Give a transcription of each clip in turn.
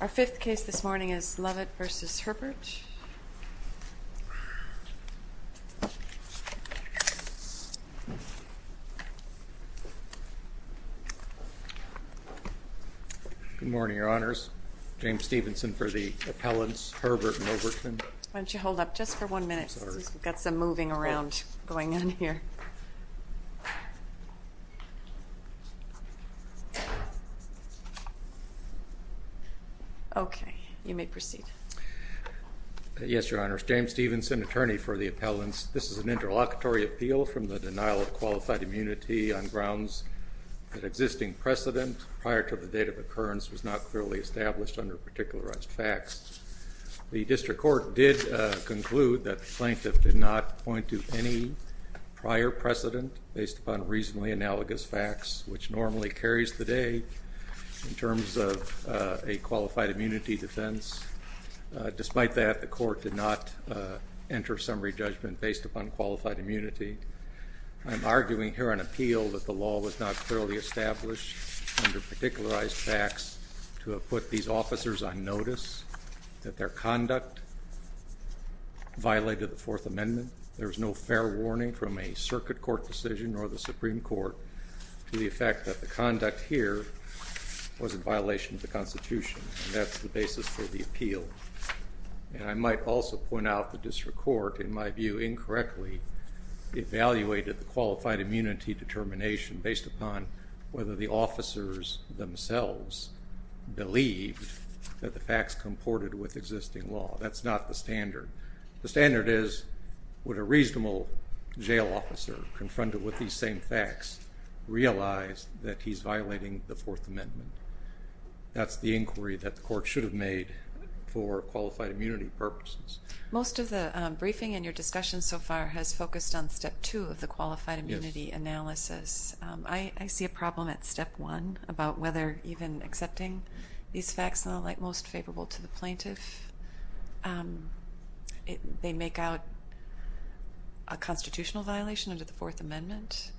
Our fifth case this morning is Lovett v. Herbert. Good morning, Your Honors. James Stevenson for the appellants, Herbert and Overton. Why don't you hold up just for one minute? We've got some moving around going on here. Okay, you may proceed. Yes, Your Honors. James Stevenson, attorney for the appellants. This is an interlocutory appeal from the denial of qualified immunity on grounds that existing precedent prior to the date of occurrence was not clearly established under particularized facts. The district court did conclude that the plaintiff did not point to any prior precedent based upon reasonably analogous facts, which normally carries the day in terms of a qualified immunity defense. Despite that, the court did not enter summary judgment based upon qualified immunity. I'm arguing here on appeal that the law was not clearly established under particularized facts to have put these officers on notice that their conduct violated the Fourth Amendment. There was no fair warning from a circuit court decision or the Supreme Court to the effect that the conduct here was in violation of the Constitution, and that's the basis for the appeal. And I might also point out the district court, in my view, incorrectly evaluated the qualified immunity determination based upon whether the officers themselves believed that the facts comported with existing law. That's not the standard. The standard is would a reasonable jail officer confronted with these same facts realize that he's violating the Fourth Amendment? That's the inquiry that the court should have made for qualified immunity purposes. Most of the briefing in your discussion so far has focused on step two of the qualified immunity analysis. I see a problem at step one about whether even accepting these facts in the light most favorable to the plaintiff, they make out a constitutional violation under the Fourth Amendment.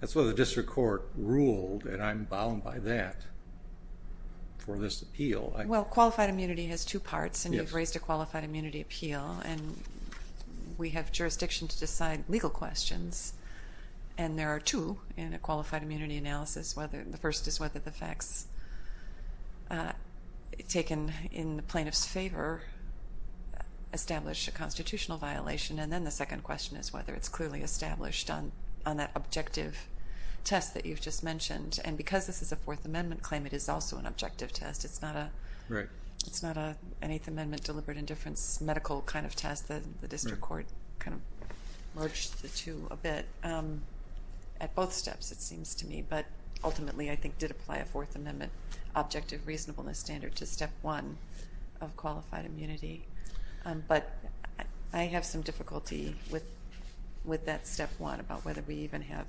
That's what the district court ruled, and I'm bound by that for this appeal. Well, qualified immunity has two parts, and you've raised a qualified immunity appeal. And we have jurisdiction to decide legal questions, and there are two in a qualified immunity analysis. The first is whether the facts taken in the plaintiff's favor establish a constitutional violation. And then the second question is whether it's clearly established on that objective test that you've just mentioned. And because this is a Fourth Amendment claim, it is also an objective test. It's not an Eighth Amendment deliberate indifference medical kind of test. The district court kind of merged the two a bit. At both steps it seems to me, but ultimately I think did apply a Fourth Amendment objective reasonableness standard to step one of qualified immunity. But I have some difficulty with that step one about whether we even have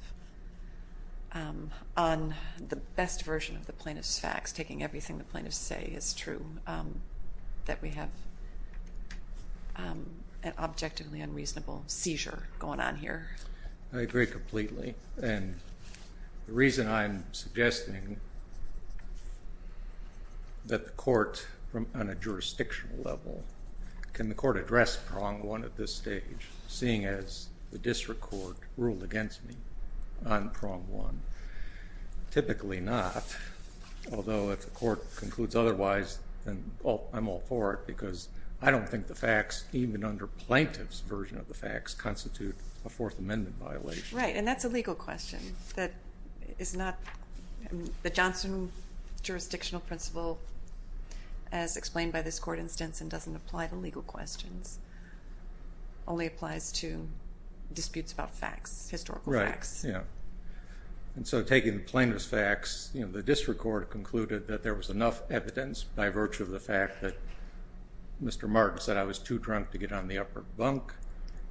on the best version of the plaintiff's facts, taking everything the plaintiffs say is true, that we have an objectively unreasonable seizure going on here. I agree completely. And the reason I'm suggesting that the court on a jurisdictional level, can the court address prong one at this stage, seeing as the district court ruled against me on prong one? Typically not, although if the court concludes otherwise, then I'm all for it, because I don't think the facts, even under plaintiff's version of the facts, constitute a Fourth Amendment violation. Right, and that's a legal question. The Johnson jurisdictional principle, as explained by this court instance and doesn't apply to legal questions, only applies to disputes about facts, historical facts. And so taking the plaintiff's facts, the district court concluded that there was enough evidence, by virtue of the fact that Mr. Martin said I was too drunk to get on the upper bunk,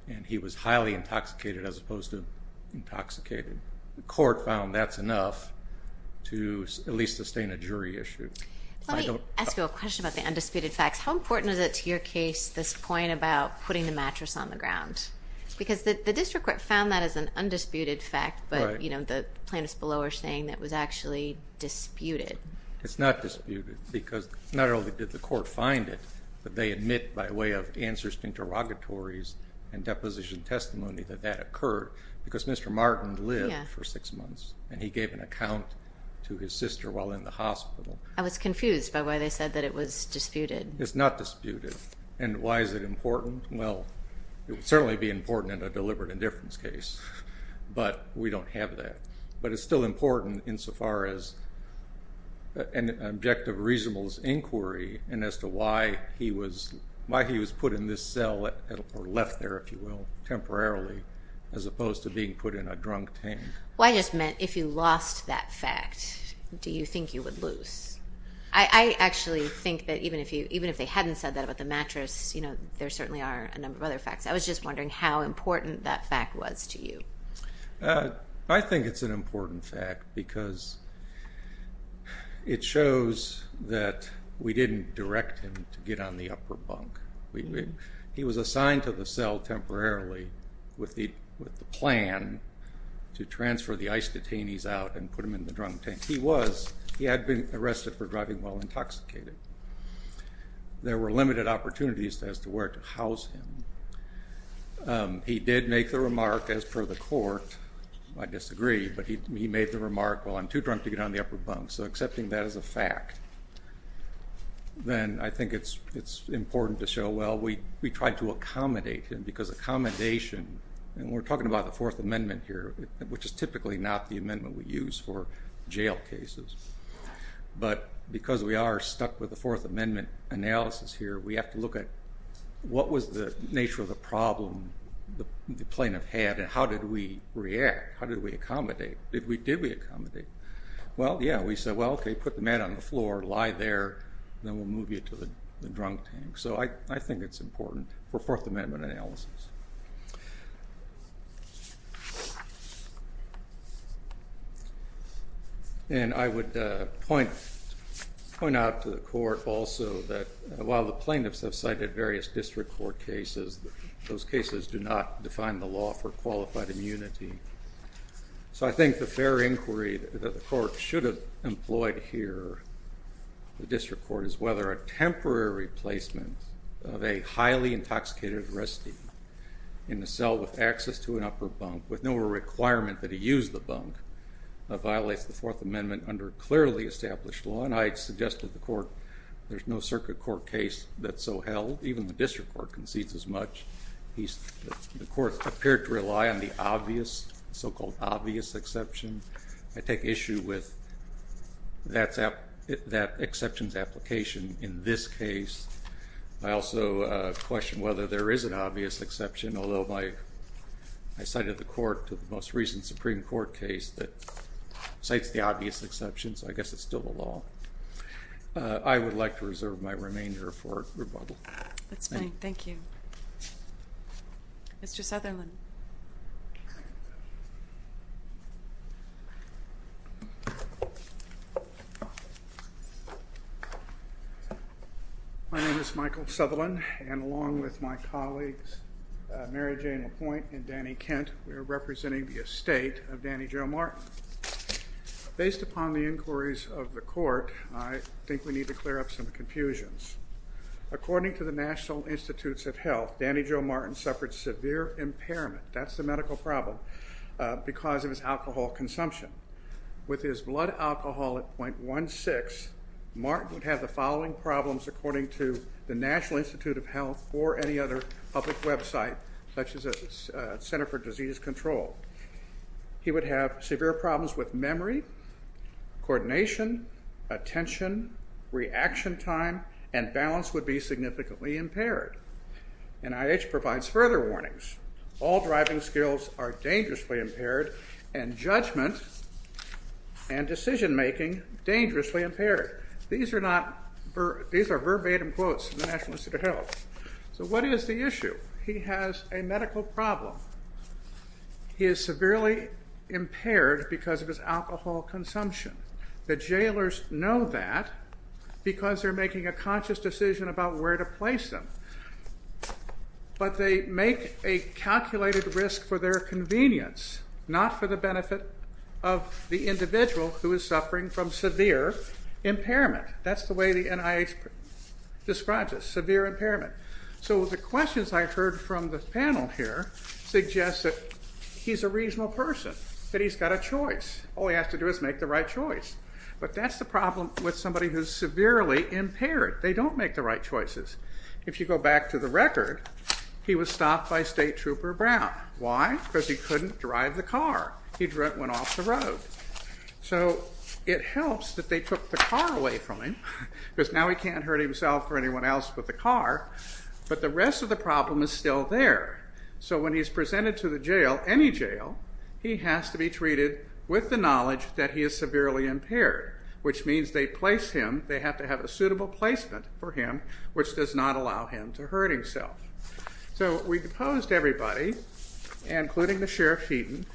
and he was highly intoxicated as opposed to intoxicated. The court found that's enough to at least sustain a jury issue. Let me ask you a question about the undisputed facts. How important is it to your case this point about putting the mattress on the ground? Because the district court found that as an undisputed fact, but the plaintiffs below are saying that it was actually disputed. It's not disputed, because not only did the court find it, but they admit by way of answers to interrogatories and deposition testimony that that occurred, because Mr. Martin lived for six months, and he gave an account to his sister while in the hospital. I was confused by why they said that it was disputed. It's not disputed. And why is it important? Well, it would certainly be important in a deliberate indifference case, but we don't have that. But it's still important insofar as an objective reasonable inquiry and as to why he was put in this cell, or left there, if you will, temporarily, as opposed to being put in a drunk tank. Well, I just meant if you lost that fact, do you think you would lose? I actually think that even if they hadn't said that about the mattress, there certainly are a number of other facts. I was just wondering how important that fact was to you. I think it's an important fact, because it shows that we didn't direct him to get on the upper bunk. He was assigned to the cell temporarily with the plan to transfer the ICE detainees out and put them in the drunk tank. If he was, he had been arrested for driving while intoxicated. There were limited opportunities as to where to house him. He did make the remark as per the court. I disagree, but he made the remark, well, I'm too drunk to get on the upper bunk. So accepting that as a fact, then I think it's important to show, well, we tried to accommodate him, because accommodation, and we're talking about the Fourth Amendment here, which is typically not the amendment we use for jail cases. But because we are stuck with the Fourth Amendment analysis here, we have to look at what was the nature of the problem the plaintiff had, and how did we react? How did we accommodate? Did we accommodate? Well, yeah, we said, well, okay, put the man on the floor, lie there, and then we'll move you to the drunk tank. So I think it's important for Fourth Amendment analysis. And I would point out to the court also that while the plaintiffs have cited various district court cases, those cases do not define the law for qualified immunity. So I think the fair inquiry that the court should have employed here, the district court, is whether a temporary replacement of a highly intoxicated arrestee in the cell with access to an upper bunk, with no requirement that he use the bunk, violates the Fourth Amendment under clearly established law. And I suggested to the court there's no circuit court case that's so held. Even the district court concedes as much. The court appeared to rely on the obvious, so-called obvious exception. I take issue with that exception's application in this case. I also question whether there is an obvious exception, although I cited the court to the most recent Supreme Court case that cites the obvious exception, so I guess it's still the law. I would like to reserve my remainder for rebuttal. That's fine. Thank you. Mr. Sutherland. My name is Michael Sutherland, and along with my colleagues Mary Jane LaPointe and Danny Kent, we are representing the estate of Danny Jo Martin. Based upon the inquiries of the court, I think we need to clear up some confusions. According to the National Institutes of Health, Danny Jo Martin suffered severe impairment, that's the medical problem, because of his alcohol consumption. With his blood alcohol at 0.16, Martin would have the following problems, according to the National Institute of Health or any other public website, such as the Center for Disease Control. He would have severe problems with memory, coordination, attention, reaction time, and balance would be significantly impaired. NIH provides further warnings. All driving skills are dangerously impaired and judgment and decision-making dangerously impaired. These are verbatim quotes from the National Institute of Health. So what is the issue? He has a medical problem. He is severely impaired because of his alcohol consumption. The jailers know that because they're making a conscious decision about where to place him. But they make a calculated risk for their convenience, not for the benefit of the individual who is suffering from severe impairment. That's the way the NIH describes it, severe impairment. So the questions I've heard from the panel here suggest that he's a reasonable person, that he's got a choice. All he has to do is make the right choice. But that's the problem with somebody who's severely impaired. They don't make the right choices. If you go back to the record, he was stopped by State Trooper Brown. Why? Because he couldn't drive the car. He went off the road. So it helps that they took the car away from him, because now he can't hurt himself or anyone else with the car. But the rest of the problem is still there. So when he's presented to the jail, any jail, he has to be treated with the knowledge that he is severely impaired, which means they place him, they have to have a suitable placement for him, which does not allow him to hurt himself. So we proposed to everybody, including the Sheriff Heaton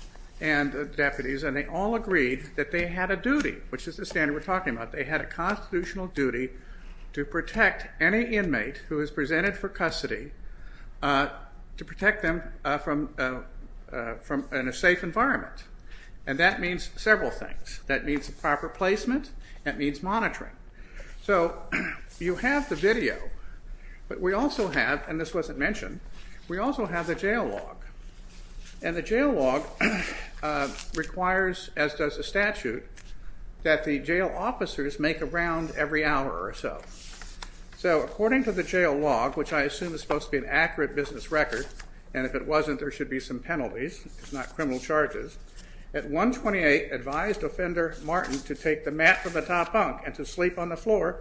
and the deputies, and they all agreed that they had a duty, which is the standard we're talking about. They had a constitutional duty to protect any inmate who is presented for custody, to protect them in a safe environment. And that means several things. That means proper placement. That means monitoring. So you have the video, but we also have, and this wasn't mentioned, we also have the jail log. And the jail log requires, as does the statute, that the jail officers make a round every hour or so. So according to the jail log, which I assume is supposed to be an accurate business record, and if it wasn't there should be some penalties, not criminal charges, at 128 advised offender Martin to take the mat from the top bunk and to sleep on the floor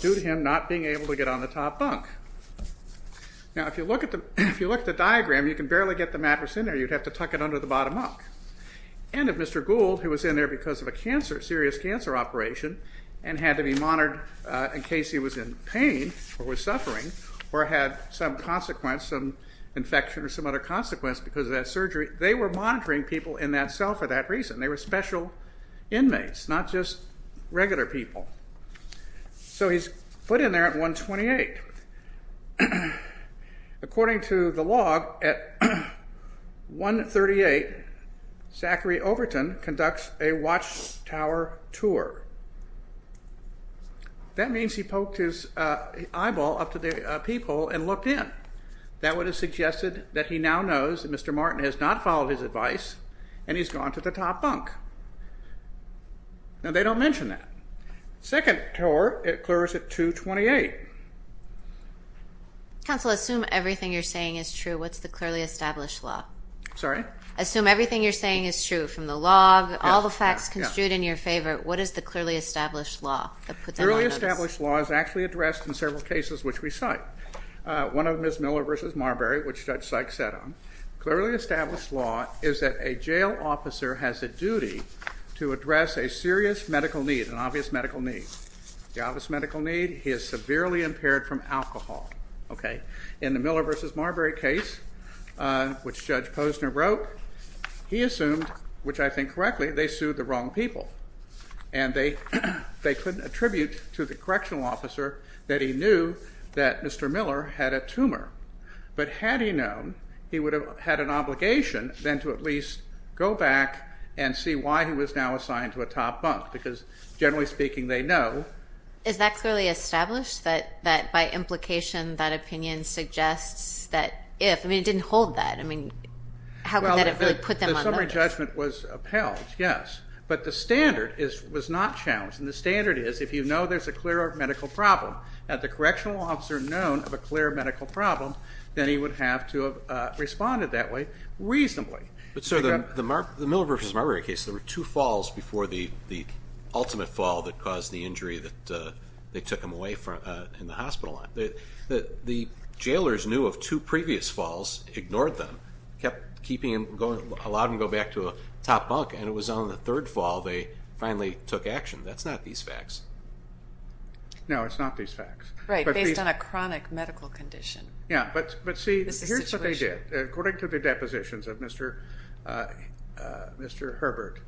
due to him not being able to get on the top bunk. Now if you look at the diagram, you can barely get the mattress in there. You'd have to tuck it under the bottom bunk. And if Mr. Gould, who was in there because of a serious cancer operation and had to be monitored in case he was in pain or was suffering or had some consequence, some infection or some other consequence because of that surgery, they were monitoring people in that cell for that reason. They were special inmates, not just regular people. So he's put in there at 128. According to the log, at 138, Zachary Overton conducts a watchtower tour. That means he poked his eyeball up to the peephole and looked in. That would have suggested that he now knows that Mr. Martin has not followed his advice and he's gone to the top bunk. Now they don't mention that. Second tour, it clears at 228. Counsel, assume everything you're saying is true. What's the clearly established law? Sorry? Assume everything you're saying is true, from the log, all the facts construed in your favor. What is the clearly established law? The clearly established law is actually addressed in several cases which we cite. One of them is Miller v. Marbury, which Judge Sykes set on. The clearly established law is that a jail officer has a duty to address a serious medical need, an obvious medical need. The obvious medical need, he is severely impaired from alcohol. In the Miller v. Marbury case, which Judge Posner wrote, he assumed, which I think correctly, they sued the wrong people. And they couldn't attribute to the correctional officer that he knew that Mr. Miller had a tumor. But had he known, he would have had an obligation then to at least go back and see why he was now assigned to a top bunk because, generally speaking, they know. Is that clearly established, that by implication that opinion suggests that if? I mean, it didn't hold that. I mean, how could that have really put them on the hook? Well, the summary judgment was upheld, yes. But the standard was not challenged. And the standard is if you know there's a clear medical problem, had the correctional officer known of a clear medical problem, then he would have to have responded that way reasonably. But, sir, the Miller v. Marbury case, there were two falls before the ultimate fall that caused the injury that they took him away in the hospital. The jailers knew of two previous falls, ignored them, kept keeping him, allowed him to go back to a top bunk, and it was on the third fall they finally took action. That's not these facts. No, it's not these facts. Right, based on a chronic medical condition. Yeah, but see, here's what they did. According to the depositions of Mr. Herbert,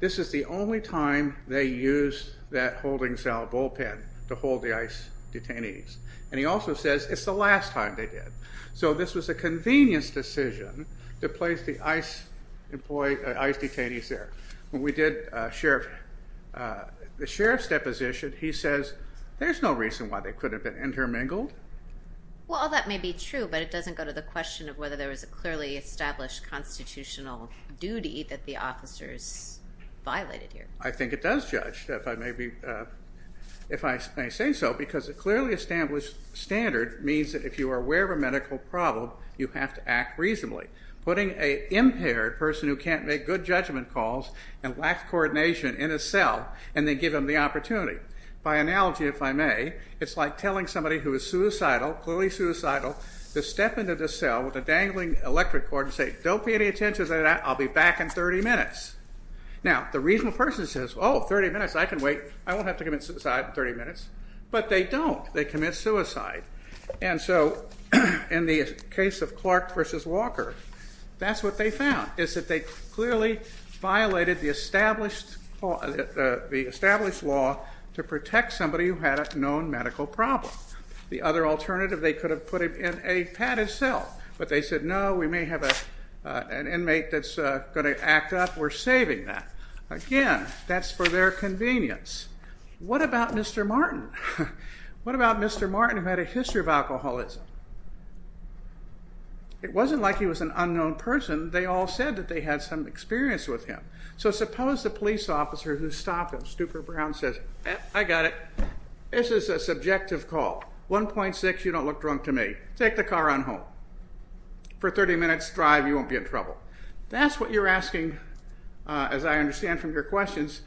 this is the only time they used that holding cell bullpen to hold the ICE detainees. And he also says it's the last time they did. So this was a convenience decision to place the ICE detainees there. When we did the sheriff's deposition, he says there's no reason why they could have been intermingled. Well, that may be true, but it doesn't go to the question of whether there was a clearly established constitutional duty that the officers violated here. I think it does, Judge, if I may say so, because a clearly established standard means that if you are aware of a medical problem, you have to act reasonably. Putting an impaired person who can't make good judgment calls and lacks coordination in a cell and then give them the opportunity. By analogy, if I may, it's like telling somebody who is suicidal, clearly suicidal, to step into the cell with a dangling electric cord and say, don't pay any attention to that, I'll be back in 30 minutes. Now, the reasonable person says, oh, 30 minutes, I can wait. I won't have to commit suicide in 30 minutes. But they don't. They commit suicide. And so in the case of Clark v. Walker, that's what they found, is that they clearly violated the established law to protect somebody who had a known medical problem. The other alternative, they could have put him in a padded cell, but they said, no, we may have an inmate that's going to act up. We're saving that. Again, that's for their convenience. What about Mr. Martin? What about Mr. Martin, who had a history of alcoholism? It wasn't like he was an unknown person. They all said that they had some experience with him. So suppose the police officer who stopped him, Stupor Brown, says, I got it, this is a subjective call. 1.6, you don't look drunk to me. Take the car on home. For a 30-minute drive, you won't be in trouble. That's what you're asking, as I understand from your questions,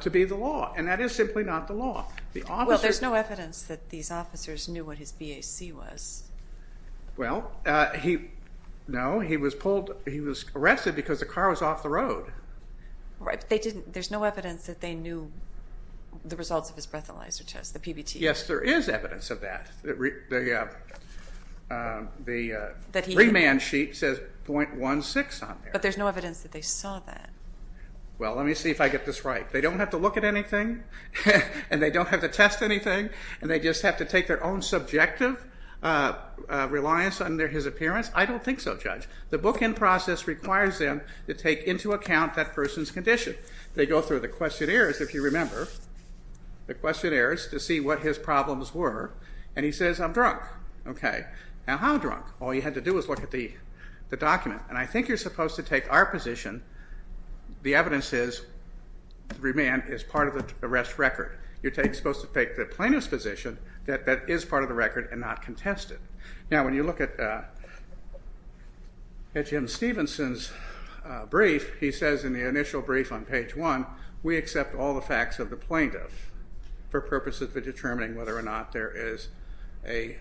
to be the law. And that is simply not the law. Well, there's no evidence that these officers knew what his BAC was. Well, no, he was arrested because the car was off the road. Right, but there's no evidence that they knew the results of his breathalyzer test, the PBT. Yes, there is evidence of that. The remand sheet says .16 on there. But there's no evidence that they saw that. Well, let me see if I get this right. They don't have to look at anything, and they don't have to test anything, and they just have to take their own subjective reliance on his appearance? I don't think so, Judge. The bookend process requires them to take into account that person's condition. They go through the questionnaires, if you remember, the questionnaires, to see what his problems were, and he says, I'm drunk. Okay, now how drunk? All you had to do was look at the document. And I think you're supposed to take our position. The evidence is remand is part of the arrest record. You're supposed to take the plaintiff's position that that is part of the record and not contest it. Now, when you look at Jim Stevenson's brief, he says in the initial brief on page 1, we accept all the facts of the plaintiff for purposes of determining whether or not there is a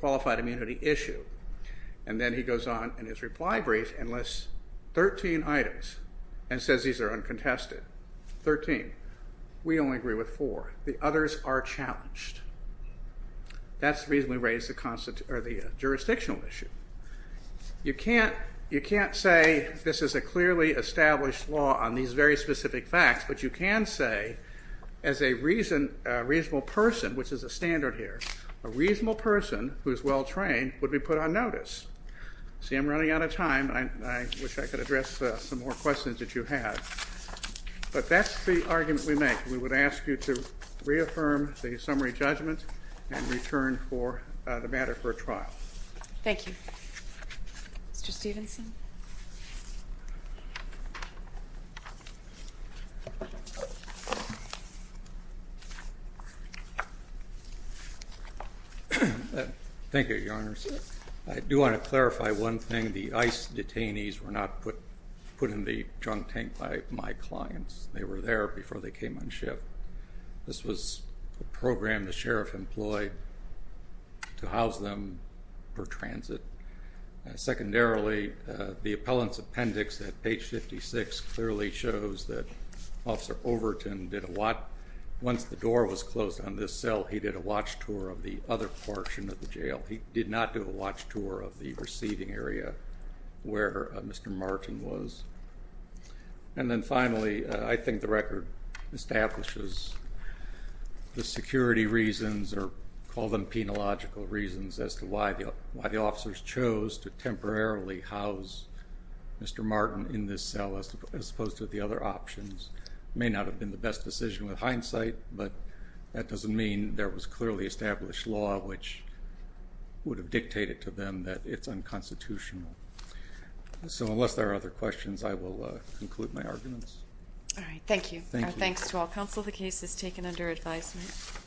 qualified immunity issue. And then he goes on in his reply brief and lists 13 items and says these are uncontested. Thirteen. We only agree with four. The others are challenged. That's reasonably raised the jurisdictional issue. You can't say this is a clearly established law on these very specific facts, but you can say as a reasonable person, which is a standard here, a reasonable person who is well-trained would be put on notice. See, I'm running out of time. I wish I could address some more questions that you have. But that's the argument we make. We would ask you to reaffirm the summary judgment and return the matter for a trial. Thank you. Mr. Stevenson? Thank you, Your Honor. I do want to clarify one thing. The ICE detainees were not put in the junk tank by my clients. They were there before they came on ship. This was a program the sheriff employed to house them for transit. Secondarily, the appellant's appendix at page 56 clearly shows that Officer Overton did a watch. Once the door was closed on this cell, he did a watch tour of the other portion of the jail. He did not do a watch tour of the receiving area where Mr. Martin was. And then finally, I think the record establishes the security reasons, or call them penological reasons, as to why the officers chose to temporarily house Mr. Martin in this cell as opposed to the other options. It may not have been the best decision with hindsight, but that doesn't mean there was clearly established law which would have dictated to them that it's unconstitutional. So unless there are other questions, I will conclude my arguments. All right. Thank you. Thank you. Our thanks to all counsel. The case is taken under advisement.